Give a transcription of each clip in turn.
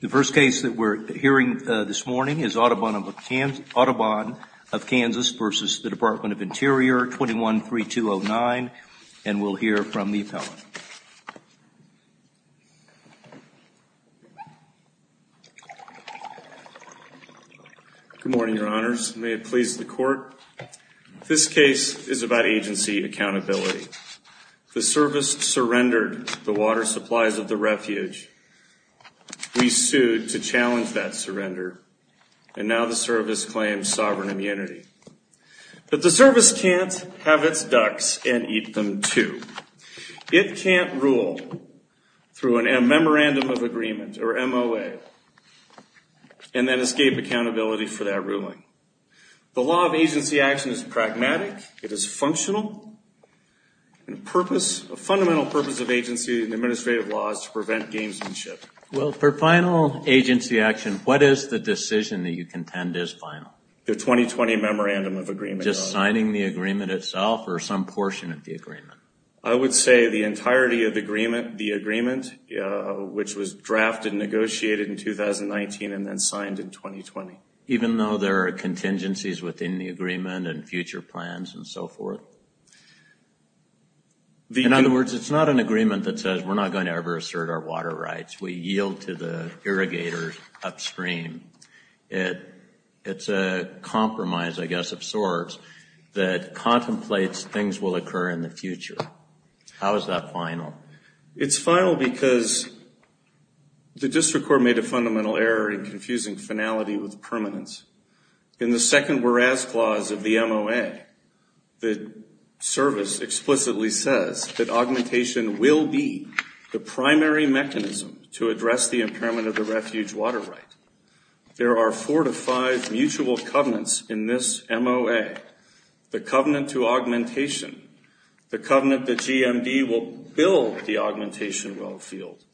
The first case that we're hearing this morning is Audubon of Kansas v. Department of Interior 21-3209, and we'll hear from the appellant. Good morning, Your Honors. May it please the Court? This case is about agency accountability. The service surrendered the water supplies of the refuge. We sued to challenge that surrender, and now the service claims sovereign immunity. But the service can't have its ducks and eat them too. It can't rule through a Memorandum of Agreement, or MOA, and then escape accountability for that ruling. The law of agency action is pragmatic, it is functional, and a fundamental purpose of agency and administrative law is to prevent gamesmanship. Well, for final agency action, what is the decision that you contend is final? The 2020 Memorandum of Agreement. Just signing the agreement itself, or some portion of the agreement? I would say the entirety of the agreement, which was drafted and negotiated in 2019 and then signed in 2020. Even though there are contingencies within the agreement and future plans and so forth? In other words, it's not an agreement that says we're not going to ever assert our water rights. We yield to the irrigators upstream. It's a compromise, I guess, of sorts, that contemplates things will occur in the future. How is that final? It's final because the district court made a fundamental error in confusing finality with permanence. In the second whereas clause of the MOA, the service explicitly says that augmentation will be the primary mechanism to address the impairment of the refuge water right. There are four to five mutual covenants in this MOA. The covenant to augmentation. The covenant that GMD will build the augmentation well field.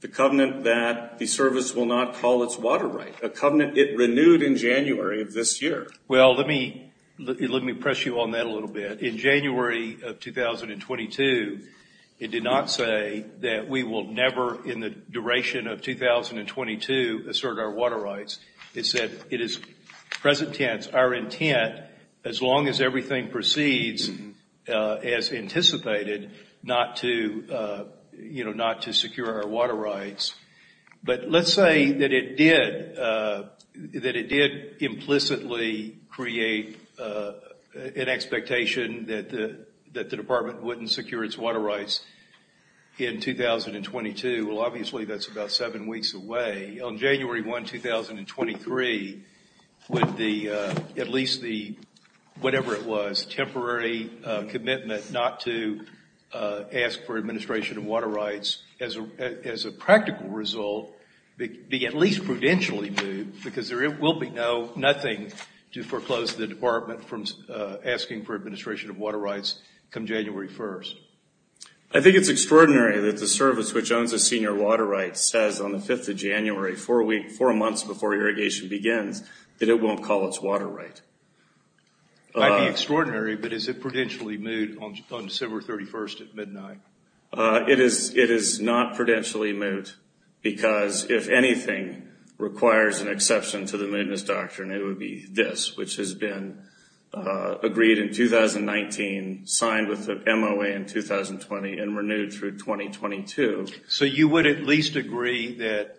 The covenant that the service will not call its water right. A covenant it renewed in January of this year. Well, let me press you on that a little bit. In January of 2022, it did not say that we will never in the duration of 2022 assert our water rights. It said it is present tense, our intent, as long as everything proceeds as anticipated, not to secure our water rights. But let's say that it did implicitly create an expectation that the department wouldn't secure its water rights in 2022. Well, obviously, that's about seven weeks away. On January 1, 2023, would at least the, whatever it was, temporary commitment not to ask for administration of water rights as a practical result be at least prudentially moved because there will be nothing to foreclose the department from asking for administration of water rights come January 1st. I think it's extraordinary that the service, which owns a senior water right, says on the 5th of January, four months before irrigation begins, that it won't call its water right. It might be extraordinary, but is it prudentially moved on December 31st at midnight? It is not prudentially moved because if anything requires an exception to the mootness doctrine, it would be this, which has been agreed in 2019, signed with the MOA in 2020, and renewed through 2022. So you would at least agree that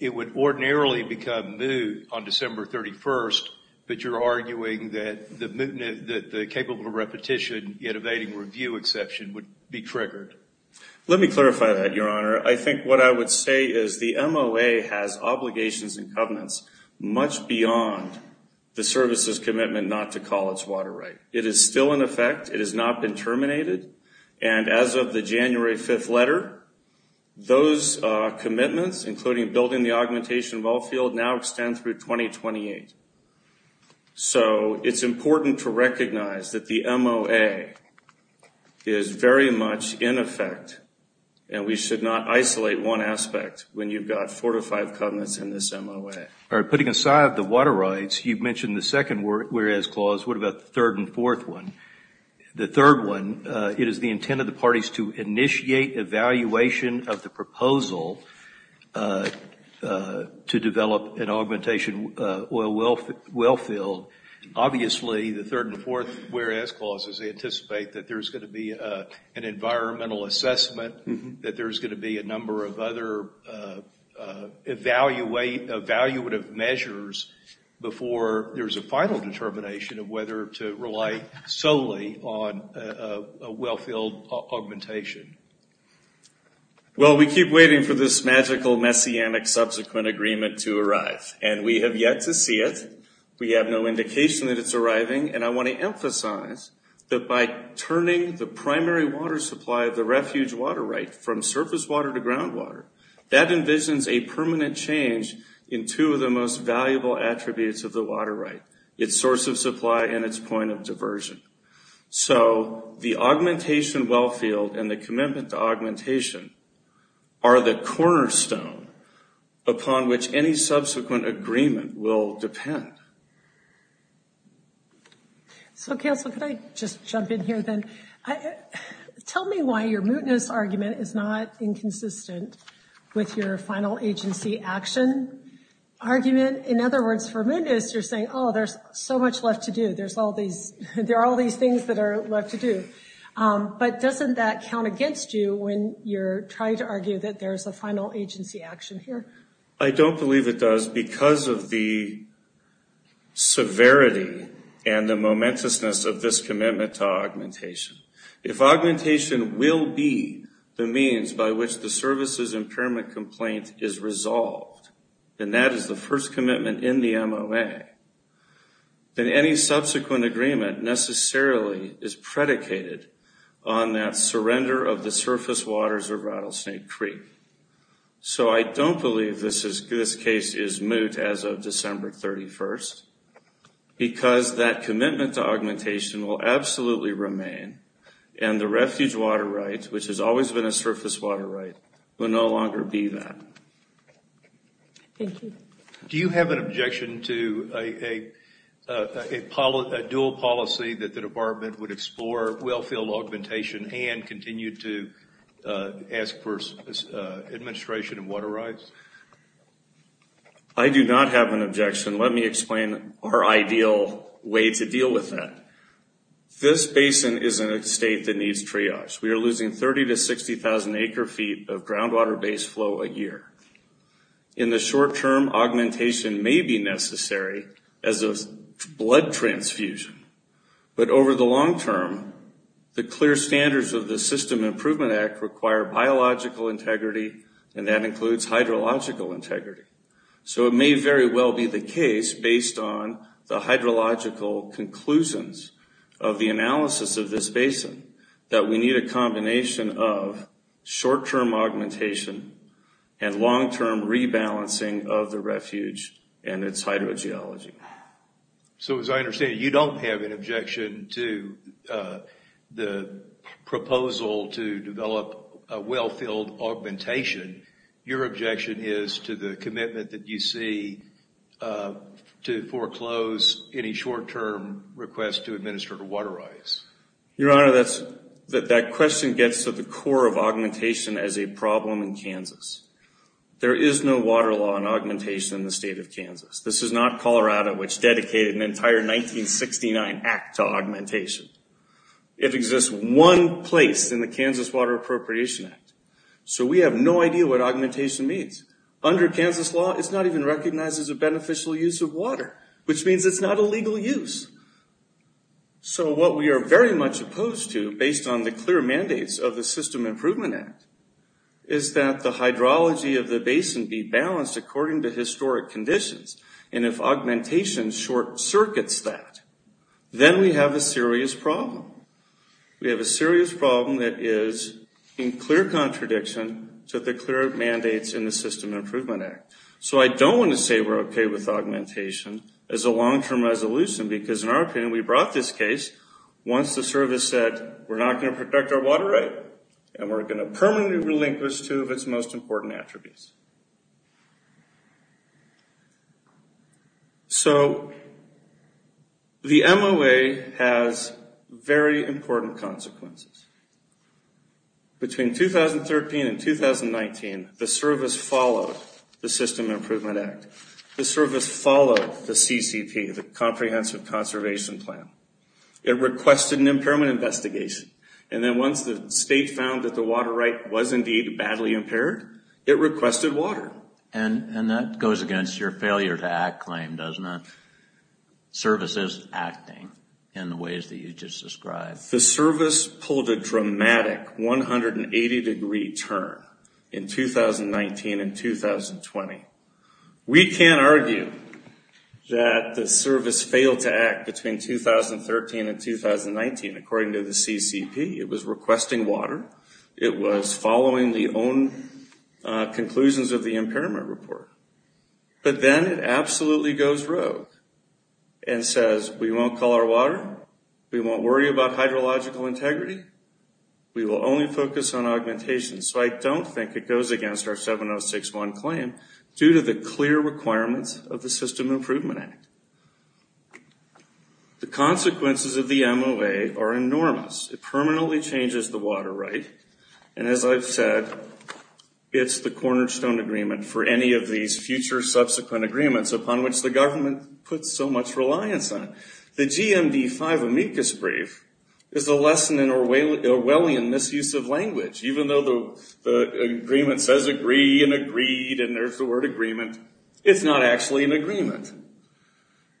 it would ordinarily become moot on December 31st, but you're arguing that the capable repetition, yet evading review exception would be triggered. Let me clarify that, Your Honor. I think what I would say is the MOA has obligations and covenants much beyond the service's commitment not to call its water right. It is still in effect. It has not been terminated. And as of the January 5th letter, those commitments, including building the augmentation well field, now extend through 2028. So it's important to recognize that the MOA is very much in effect, and we should not isolate one aspect when you've got four to five covenants in this MOA. All right, putting aside the water rights, you've mentioned the second whereas clause. What about the third and fourth one? The third one, it is the intent of the parties to initiate evaluation of the proposal to develop an augmentation well field. Obviously, the third and fourth whereas clauses anticipate that there's going to be an environmental assessment, that there's going to be a number of other evaluative measures before there's a final determination of whether to rely solely on a well field augmentation. Well, we keep waiting for this magical messianic subsequent agreement to arrive, and we have yet to see it. We have no indication that it's arriving. And I want to emphasize that by turning the primary water supply of the refuge water right from surface water to groundwater, that envisions a permanent change in two of the most valuable attributes of the water right, its source of supply and its point of diversion. So the augmentation well field and the commitment to augmentation are the cornerstone upon which any subsequent agreement will depend. So, Counselor, could I just jump in here then? Tell me why your mootness argument is not inconsistent with your final agency action argument. In other words, for mootness, you're saying, oh, there's so much left to do. There are all these things that are left to do. But doesn't that count against you when you're trying to argue that there's a final agency action here? I don't believe it does because of the severity and the momentousness of this commitment to augmentation. If augmentation will be the means by which the services impairment complaint is resolved, and that is the first commitment in the MOA, then any subsequent agreement necessarily is predicated on that surrender of the surface waters of Rattlesnake Creek. So I don't believe this case is moot as of December 31st, because that commitment to augmentation will absolutely remain, and the refuge water right, which has always been a surface water right, will no longer be that. Thank you. Do you have an objection to a dual policy that the department would explore well field augmentation and continue to ask for administration of water rights? I do not have an objection. Let me explain our ideal way to deal with that. This basin is in a state that needs triage. We are losing 30,000 to 60,000 acre feet of groundwater base flow a year. In the short term, augmentation may be necessary as a blood transfusion, but over the long term, the clear standards of the System Improvement Act require biological integrity, and that includes hydrological integrity. So it may very well be the case, based on the hydrological conclusions of the analysis of this basin, that we need a combination of short-term augmentation and long-term rebalancing of the refuge and its hydrogeology. So as I understand it, you don't have an objection to the proposal to develop a well-filled augmentation. Your objection is to the commitment that you see to foreclose any short-term request to administer water rights. Your Honor, that question gets to the core of augmentation as a problem in Kansas. There is no water law on augmentation in the state of Kansas. This is not Colorado, which dedicated an entire 1969 act to augmentation. It exists one place in the Kansas Water Appropriation Act. So we have no idea what augmentation means. Under Kansas law, it's not even recognized as a beneficial use of water, which means it's not a legal use. So what we are very much opposed to, based on the clear mandates of the System Improvement Act, is that the hydrology of the basin be balanced according to historic conditions. And if augmentation short-circuits that, then we have a serious problem. We have a serious problem that is in clear contradiction to the clear mandates in the System Improvement Act. So I don't want to say we're okay with augmentation as a long-term resolution, because in our opinion, we brought this case once the service said, we're not going to protect our water right, and we're going to permanently relinquish two of its most important attributes. So the MOA has very important consequences. Between 2013 and 2019, the service followed the System Improvement Act. The service followed the CCP, the Comprehensive Conservation Plan. It requested an impairment investigation. And then once the state found that the water right was indeed badly impaired, it requested water. And that goes against your failure to act claim, doesn't it? Service is acting in the ways that you just described. The service pulled a dramatic 180-degree turn in 2019 and 2020. We can't argue that the service failed to act between 2013 and 2019, according to the CCP. It was requesting water. It was following the own conclusions of the impairment report. But then it absolutely goes rogue and says, we won't call our water. We won't worry about hydrological integrity. We will only focus on augmentation. So I don't think it goes against our 7061 claim due to the clear requirements of the System Improvement Act. The consequences of the MOA are enormous. It permanently changes the water right. And as I've said, it's the cornerstone agreement for any of these future subsequent agreements, upon which the government puts so much reliance on. The GMD-5 amicus brief is a lesson in Orwellian misuse of language. Even though the agreement says agree and agreed and there's the word agreement, it's not actually an agreement.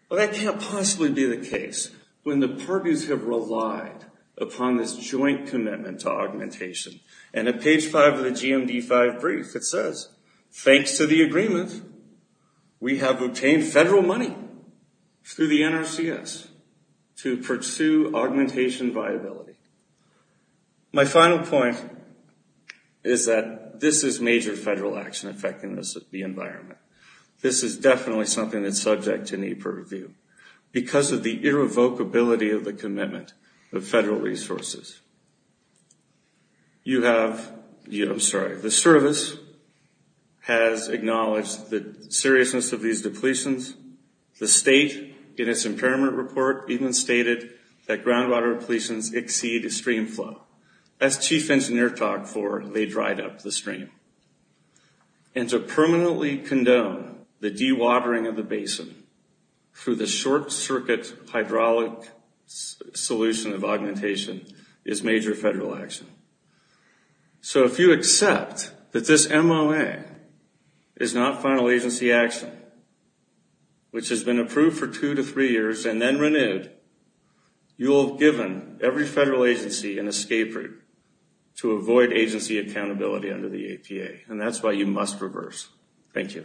But that can't possibly be the case when the parties have relied upon this joint commitment to augmentation. And at page 5 of the GMD-5 brief, it says, thanks to the agreement, we have obtained federal money through the NRCS to pursue augmentation viability. My final point is that this is major federal action affecting the environment. This is definitely something that's subject to need for review. Because of the irrevocability of the commitment of federal resources, you have, I'm sorry, the service has acknowledged the seriousness of these depletions. The state, in its impairment report, even stated that groundwater depletions exceed stream flow. That's chief engineer talk for they dried up the stream. And to permanently condone the dewatering of the basin through the short-circuit hydraulic solution of augmentation is major federal action. So if you accept that this MOA is not final agency action, which has been approved for two to three years and then renewed, you'll have given every federal agency an escape route to avoid agency accountability under the APA. And that's why you must reverse. Thank you.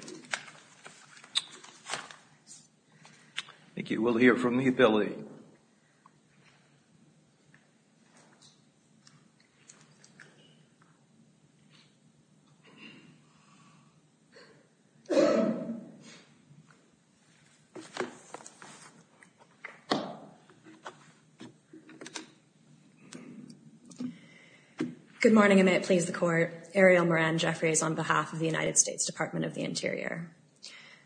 Thank you. We'll hear from the ability. Good morning, and may it please the court. Ariel Moran Jeffries on behalf of the United States Department of the Interior.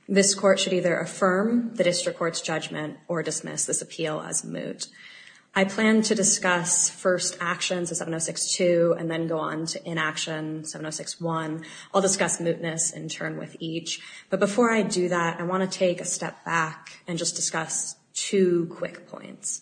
This court should either affirm the district court's judgment or dismiss this appeal as moot. I plan to discuss first actions of 762 and then go on to inaction 761. I'll discuss mootness in turn with each. But before I do that, I want to take a step back and just discuss two quick points.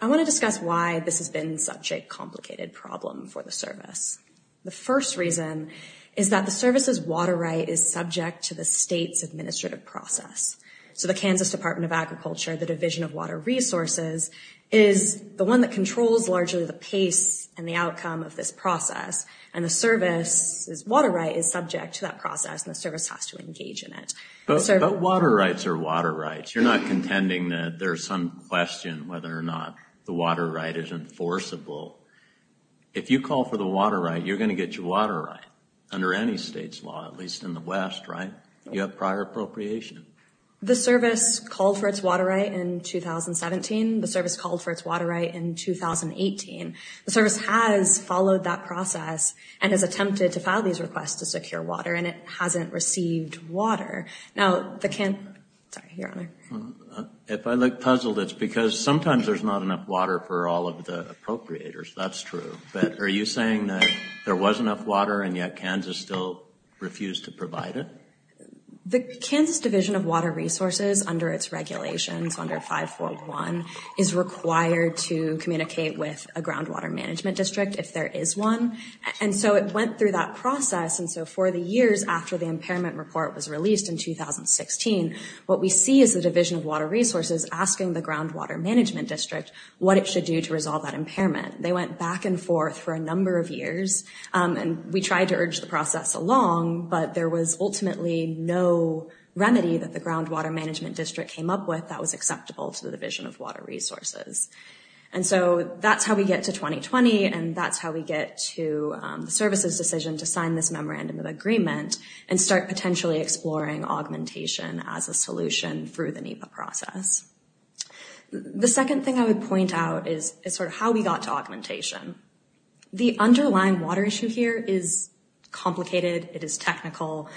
I want to discuss why this has been such a complicated problem for the service. The first reason is that the service's water right is subject to the state's administrative process. So the Kansas Department of Agriculture, the Division of Water Resources, is the one that controls largely the pace and the outcome of this process. And the service's water right is subject to that process, and the service has to engage in it. But water rights are water rights. You're not contending that there's some question whether or not the water right is enforceable. If you call for the water right, you're going to get your water right, under any state's law, at least in the West, right? You have prior appropriation. The service called for its water right in 2017. The service called for its water right in 2018. The service has followed that process and has attempted to file these requests to secure water, and it hasn't received water. Now, the Kansas... Sorry, Your Honor. If I look puzzled, it's because sometimes there's not enough water for all of the appropriators. That's true. But are you saying that there was enough water, and yet Kansas still refused to provide it? The Kansas Division of Water Resources, under its regulations, under 541, is required to communicate with a groundwater management district if there is one. And so it went through that process. And so for the years after the impairment report was released in 2016, what we see is the Division of Water Resources asking the groundwater management district what it should do to resolve that impairment. They went back and forth for a number of years, and we tried to urge the process along, but there was ultimately no remedy that the groundwater management district came up with that was acceptable to the Division of Water Resources. And so that's how we get to 2020, and that's how we get to the services decision to sign this memorandum of agreement and start potentially exploring augmentation as a solution through the NEPA process. The second thing I would point out is sort of how we got to augmentation. The underlying water issue here is complicated. It is technical.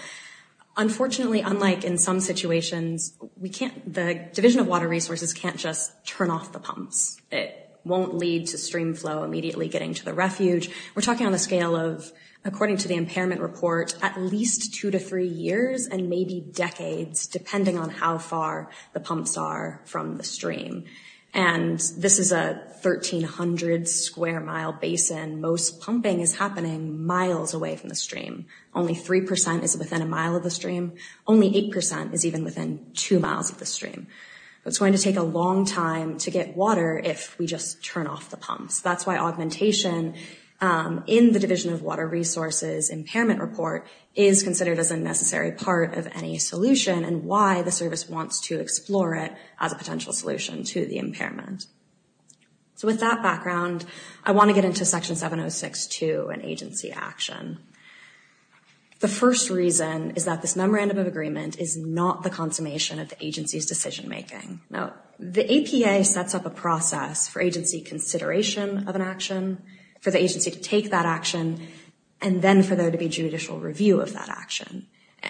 Unfortunately, unlike in some situations, the Division of Water Resources can't just turn off the pumps. It won't lead to stream flow immediately getting to the refuge. We're talking on a scale of, according to the impairment report, at least two to three years and maybe decades, depending on how far the pumps are from the stream. And this is a 1,300-square-mile basin. Most pumping is happening miles away from the stream. Only 3% is within a mile of the stream. Only 8% is even within two miles of the stream. It's going to take a long time to get water if we just turn off the pumps. That's why augmentation in the Division of Water Resources impairment report is considered as a necessary part of any solution and why the service wants to explore it as a potential solution to the impairment. So with that background, I want to get into Section 706-2 and agency action. The first reason is that this Memorandum of Agreement is not the consummation of the agency's decision-making. Now, the APA sets up a process for agency consideration of an action, for the agency to take that action, and then for there to be judicial review of that action.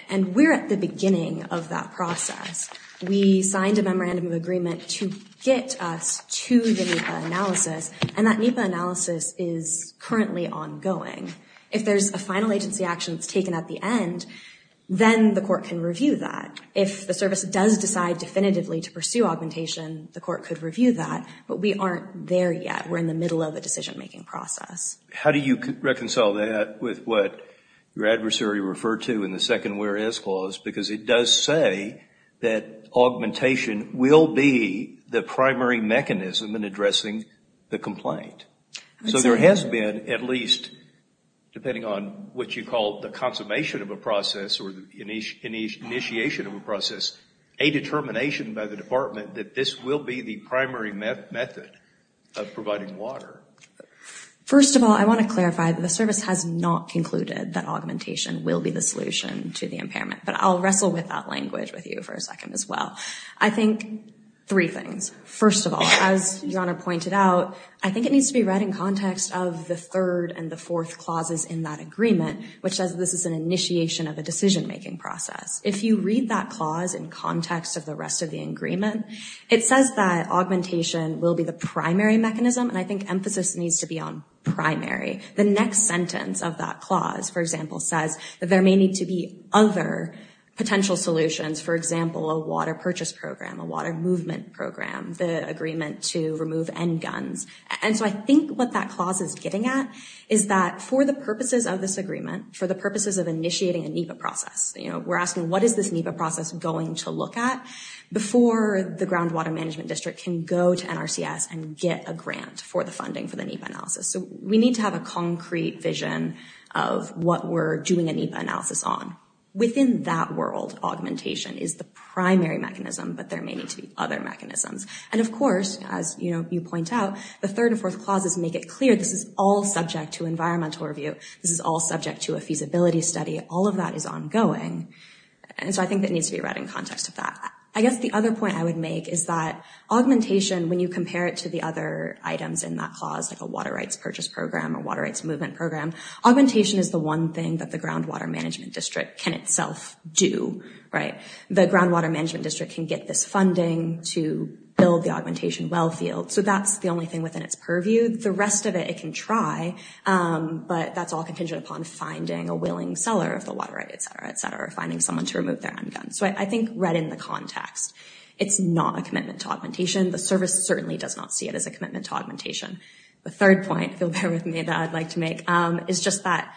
And we're at the beginning of that process. We signed a Memorandum of Agreement to get us to the NEPA analysis, and that NEPA analysis is currently ongoing. If there's a final agency action that's taken at the end, then the court can review that. If the service does decide definitively to pursue augmentation, the court could review that, but we aren't there yet. We're in the middle of a decision-making process. How do you reconcile that with what your adversary referred to in the second where is clause? Because it does say that augmentation will be the primary mechanism in addressing the complaint. So there has been at least, depending on what you call the consummation of a process or the initiation of a process, a determination by the department that this will be the primary method of providing water. First of all, I want to clarify that the service has not concluded that augmentation will be the solution to the impairment, but I'll wrestle with that language with you for a second as well. I think three things. First of all, as Your Honor pointed out, I think it needs to be read in context of the third and the fourth clauses in that agreement, which says this is an initiation of a decision-making process. If you read that clause in context of the rest of the agreement, it says that augmentation will be the primary mechanism, and I think emphasis needs to be on primary. The next sentence of that clause, for example, says that there may need to be other potential solutions, for example, a water purchase program, a water movement program, the agreement to remove end guns. And so I think what that clause is getting at is that for the purposes of this agreement, for the purposes of initiating a NEPA process, you know, we're asking what is this NEPA process going to look at before the Groundwater Management District can go to NRCS and get a grant for the funding for the NEPA analysis. So we need to have a concrete vision of what we're doing a NEPA analysis on. Within that world, augmentation is the primary mechanism, but there may need to be other mechanisms. And of course, as, you know, you point out, the third and fourth clauses make it clear this is all subject to environmental review. This is all subject to a feasibility study. All of that is ongoing. And so I think that needs to be read in context of that. I guess the other point I would make is that augmentation, when you compare it to the other items in that clause, like a water rights purchase program or water rights movement program, augmentation is the one thing that the Groundwater Management District can itself do, right? The Groundwater Management District can get this funding to build the augmentation well field. So that's the only thing within its purview. The rest of it, it can try, but that's all contingent upon finding a willing seller of the water rights, et cetera, et cetera, or finding someone to remove their handgun. So I think read in the context, it's not a commitment to augmentation. The service certainly does not see it as a commitment to augmentation. The third point, if you'll bear with me, that I'd like to make, is just that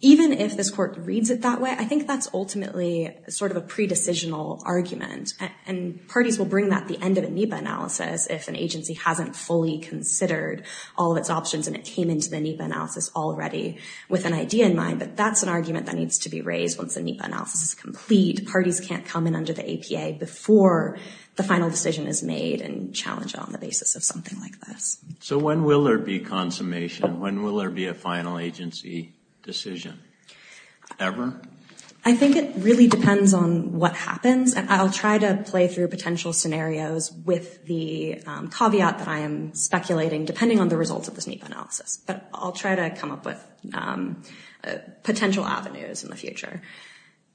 even if this court reads it that way, I think that's ultimately sort of a pre-decisional argument, and parties will bring that at the end of a NEPA analysis if an agency hasn't fully considered all of its options and it came into the NEPA analysis already with an idea in mind, but that's an argument that needs to be raised once the NEPA analysis is complete. Parties can't come in under the APA before the final decision is made and challenge it on the basis of something like this. So when will there be consummation? When will there be a final agency decision ever? I think it really depends on what happens, and I'll try to play through potential scenarios with the caveat that I am speculating, depending on the results of this NEPA analysis. But I'll try to come up with potential avenues in the future.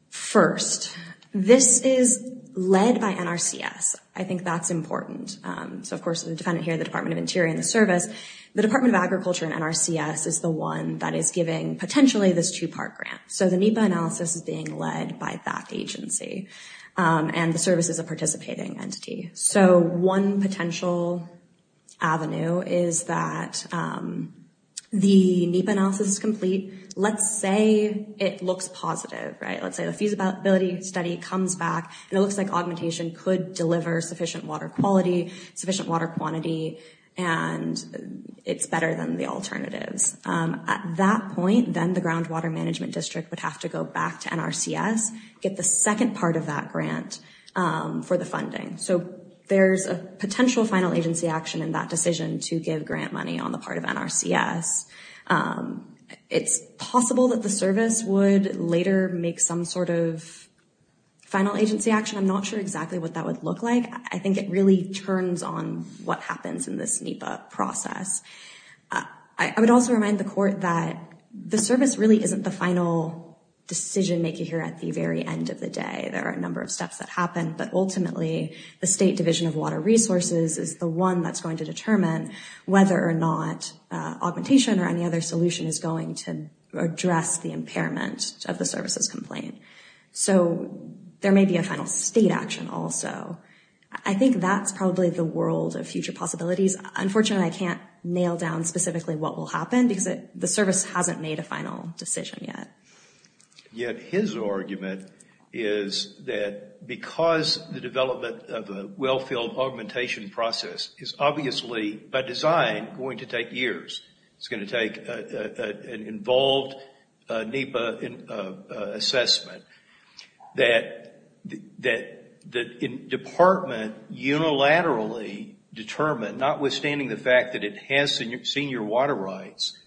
First, this is led by NRCS. I think that's important. So, of course, the defendant here, the Department of Interior and the Service, the Department of Agriculture and NRCS is the one that is giving, potentially, this two-part grant. So the NEPA analysis is being led by that agency and the services are participating entity. So one potential avenue is that the NEPA analysis is complete. Let's say it looks positive, right? Let's say the feasibility study comes back, and it looks like augmentation could deliver sufficient water quality, sufficient water quantity, and it's better than the alternatives. At that point, then the Groundwater Management District would have to go back to NRCS, get the second part of that grant for the funding. So there's a potential final agency action in that decision to give grant money on the part of NRCS. It's possible that the service would later make some sort of final agency action. I'm not sure exactly what that would look like. I think it really turns on what happens in this NEPA process. I would also remind the court that the service really isn't the final decision-maker here at the very end of the day. There are a number of steps that happen, but ultimately the State Division of Water Resources is the one that's going to determine whether or not augmentation or any other solution is going to address the impairment of the services complaint. So there may be a final State action also. I think that's probably the world of future possibilities. Unfortunately, I can't nail down specifically what will happen because the service hasn't made a final decision yet. Yet his argument is that because the development of a well-filled augmentation process is obviously, by design, going to take years, it's going to take an involved NEPA assessment, that the department unilaterally determined, notwithstanding the fact that it has senior water rights,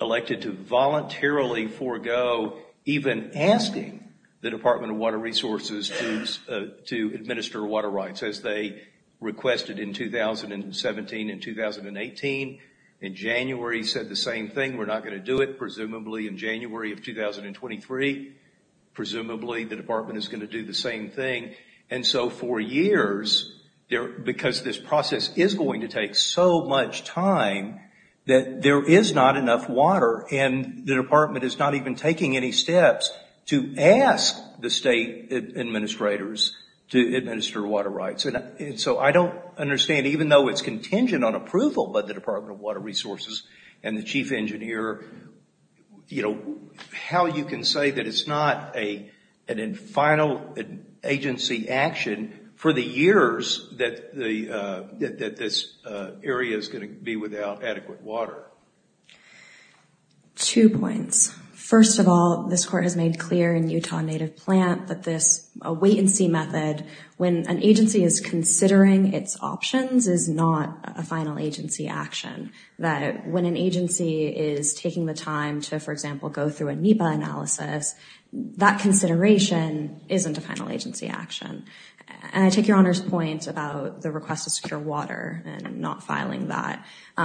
elected to voluntarily forego even asking the Department of Water Resources to administer water rights as they requested in 2017 and 2018. In January, said the same thing. We're not going to do it, presumably in January of 2023. Presumably the department is going to do the same thing. And so for years, because this process is going to take so much time, that there is not enough water and the department is not even taking any steps to ask the state administrators to administer water rights. And so I don't understand, even though it's contingent on approval by the Department of Water Resources and the chief engineer, how you can say that it's not an infinal agency action for the years that this area is going to be without adequate water. Two points. First of all, this court has made clear in Utah Native Plant that this wait-and-see method, when an agency is considering its options, is not a final agency action. That when an agency is taking the time to, for example, go through a NEPA analysis, that consideration isn't a final agency action. And I take Your Honor's point about the request to secure water and not filing that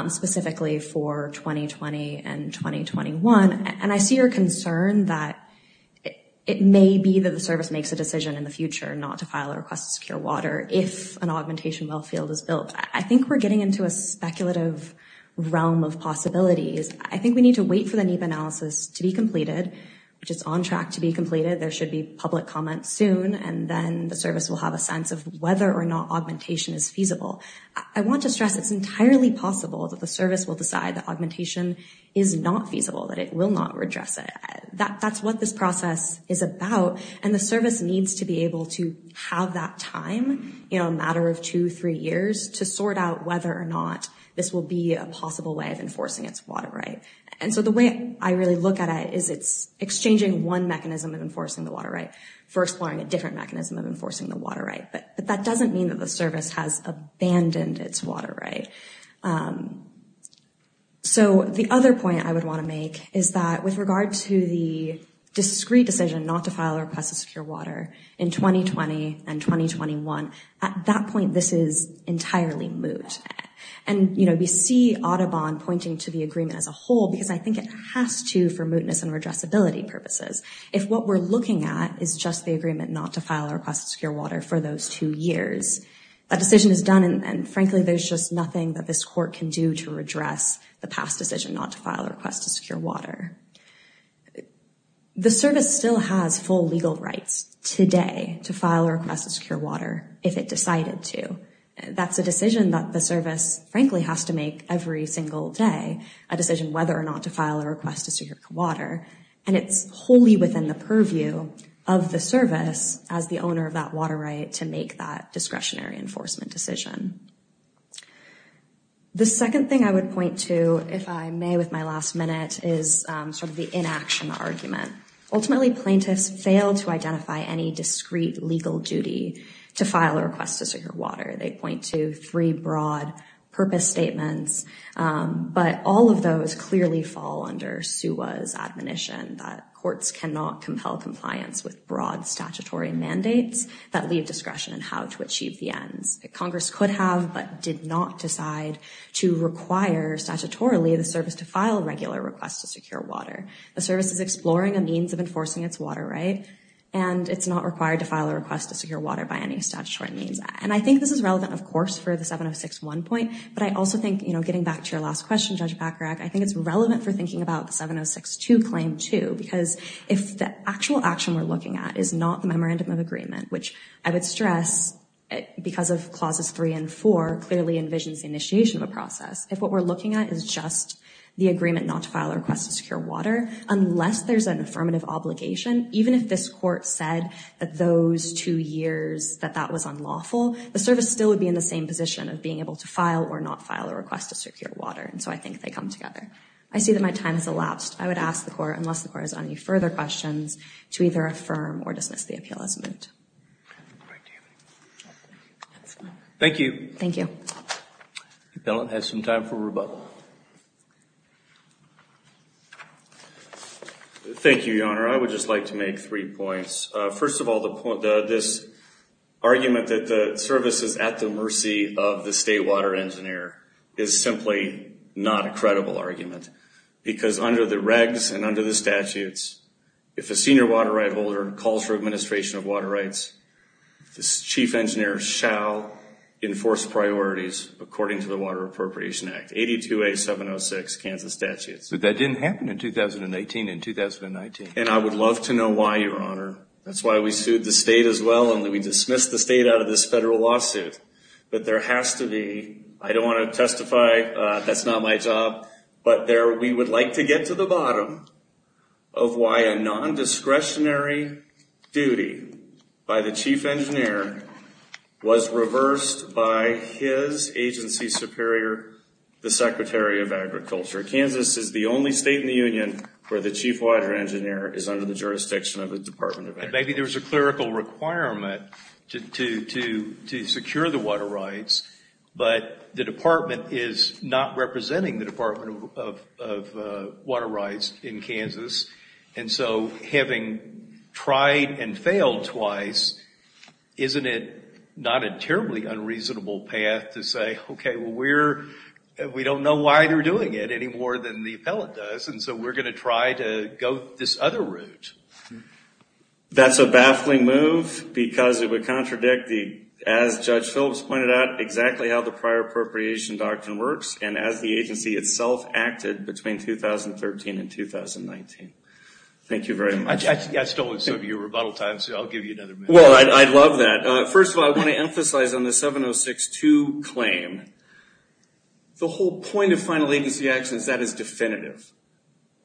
specifically for 2020 and 2021. And I see your concern that it may be that the service makes a decision in the future not to file a request to secure water if an augmentation well field is built. I think we're getting into a speculative realm of possibilities. I think we need to wait for the NEPA analysis to be completed, which is on track to be completed. I want to stress it's entirely possible that the service will decide that augmentation is not feasible, that it will not redress it. That's what this process is about, and the service needs to be able to have that time, a matter of two, three years, to sort out whether or not this will be a possible way of enforcing its water right. And so the way I really look at it is it's exchanging one mechanism of enforcing the water right for exploring a different mechanism of enforcing the water right. But that doesn't mean that the service has abandoned its water right. So the other point I would want to make is that with regard to the discrete decision not to file a request to secure water in 2020 and 2021, at that point, this is entirely moot. And, you know, we see Audubon pointing to the agreement as a whole because I think it has to for mootness and redressability purposes. If what we're looking at is just the agreement not to file a request to secure water for those two years, a decision is done and frankly there's just nothing that this court can do to redress the past decision not to file a request to secure water. The service still has full legal rights today to file a request to secure water if it decided to. That's a decision that the service frankly has to make every single day, a decision whether or not to file a request to secure water, and it's wholly within the purview of the service as the owner of that water right to make that discretionary enforcement decision. The second thing I would point to, if I may, with my last minute, is sort of the inaction argument. Ultimately, plaintiffs fail to identify any discrete legal duty to file a request to secure water. They point to three broad purpose statements, but all of those clearly fall under SUA's admonition that courts cannot compel compliance with broad statutory mandates that leave discretion in how to achieve the ends. Congress could have but did not decide to require statutorily the service to file a regular request to secure water. The service is exploring a means of enforcing its water right and it's not required to file a request to secure water by any statutory means. And I think this is relevant, of course, for the 706.1 point, but I also think, you know, getting back to your last question, Judge Bacharach, I think it's relevant for thinking about the 706.2 claim, too, because if the actual action we're looking at is not the memorandum of agreement, which I would stress, because of clauses three and four, clearly envisions the initiation of a process. If what we're looking at is just the agreement not to file a request to secure water, unless there's an affirmative obligation, even if this court said that those two years that that was unlawful, the service still would be in the same position of being able to file or not file a request to secure water. And so I think they come together. I see that my time has elapsed. I would ask the court, unless the court has any further questions, to either affirm or dismiss the appeal as moved. Thank you. Thank you. The appellant has some time for rebuttal. Thank you, Your Honor. I would just like to make three points. First of all, this argument that the service is at the mercy of the state water engineer is simply not a credible argument, because under the regs and under the statutes, if a senior water right holder calls for administration of water rights, the chief engineer shall enforce priorities, according to the Water Appropriation Act, 82A706, Kansas statutes. But that didn't happen in 2018 and 2019. And I would love to know why, Your Honor. That's why we sued the state as well, and we dismissed the state out of this federal lawsuit. But there has to be, I don't want to testify, that's not my job, but we would like to get to the bottom of why a nondiscretionary duty by the chief engineer was reversed by his agency superior, the Secretary of Agriculture. Kansas is the only state in the union where the chief water engineer is under the jurisdiction of the Department of Agriculture. Maybe there's a clerical requirement to secure the water rights, but the department is not representing the Department of Water Rights in Kansas. And so having tried and failed twice, isn't it not a terribly unreasonable path to say, okay, well, we don't know why they're doing it any more than the appellate does, and so we're going to try to go this other route. That's a baffling move because it would contradict, as Judge Phillips pointed out, exactly how the prior appropriation doctrine works, and as the agency itself acted between 2013 and 2019. Thank you very much. I stole some of your rebuttal time, so I'll give you another minute. Well, I'd love that. First of all, I want to emphasize on the 7062 claim, the whole point of final agency actions, that is definitive.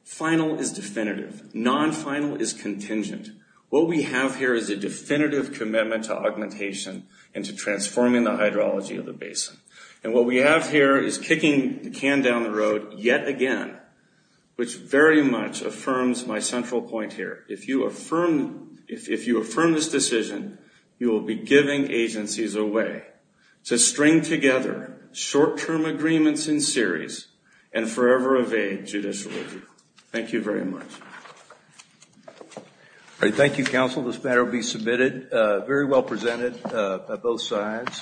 Final is definitive. Non-final is contingent. What we have here is a definitive commitment to augmentation and to transforming the hydrology of the basin. And what we have here is kicking the can down the road yet again, which very much affirms my central point here. If you affirm this decision, you will be giving agencies a way to string together short-term agreements in series and forever evade judicial review. Thank you very much. Thank you, counsel. This matter will be submitted, very well presented by both sides.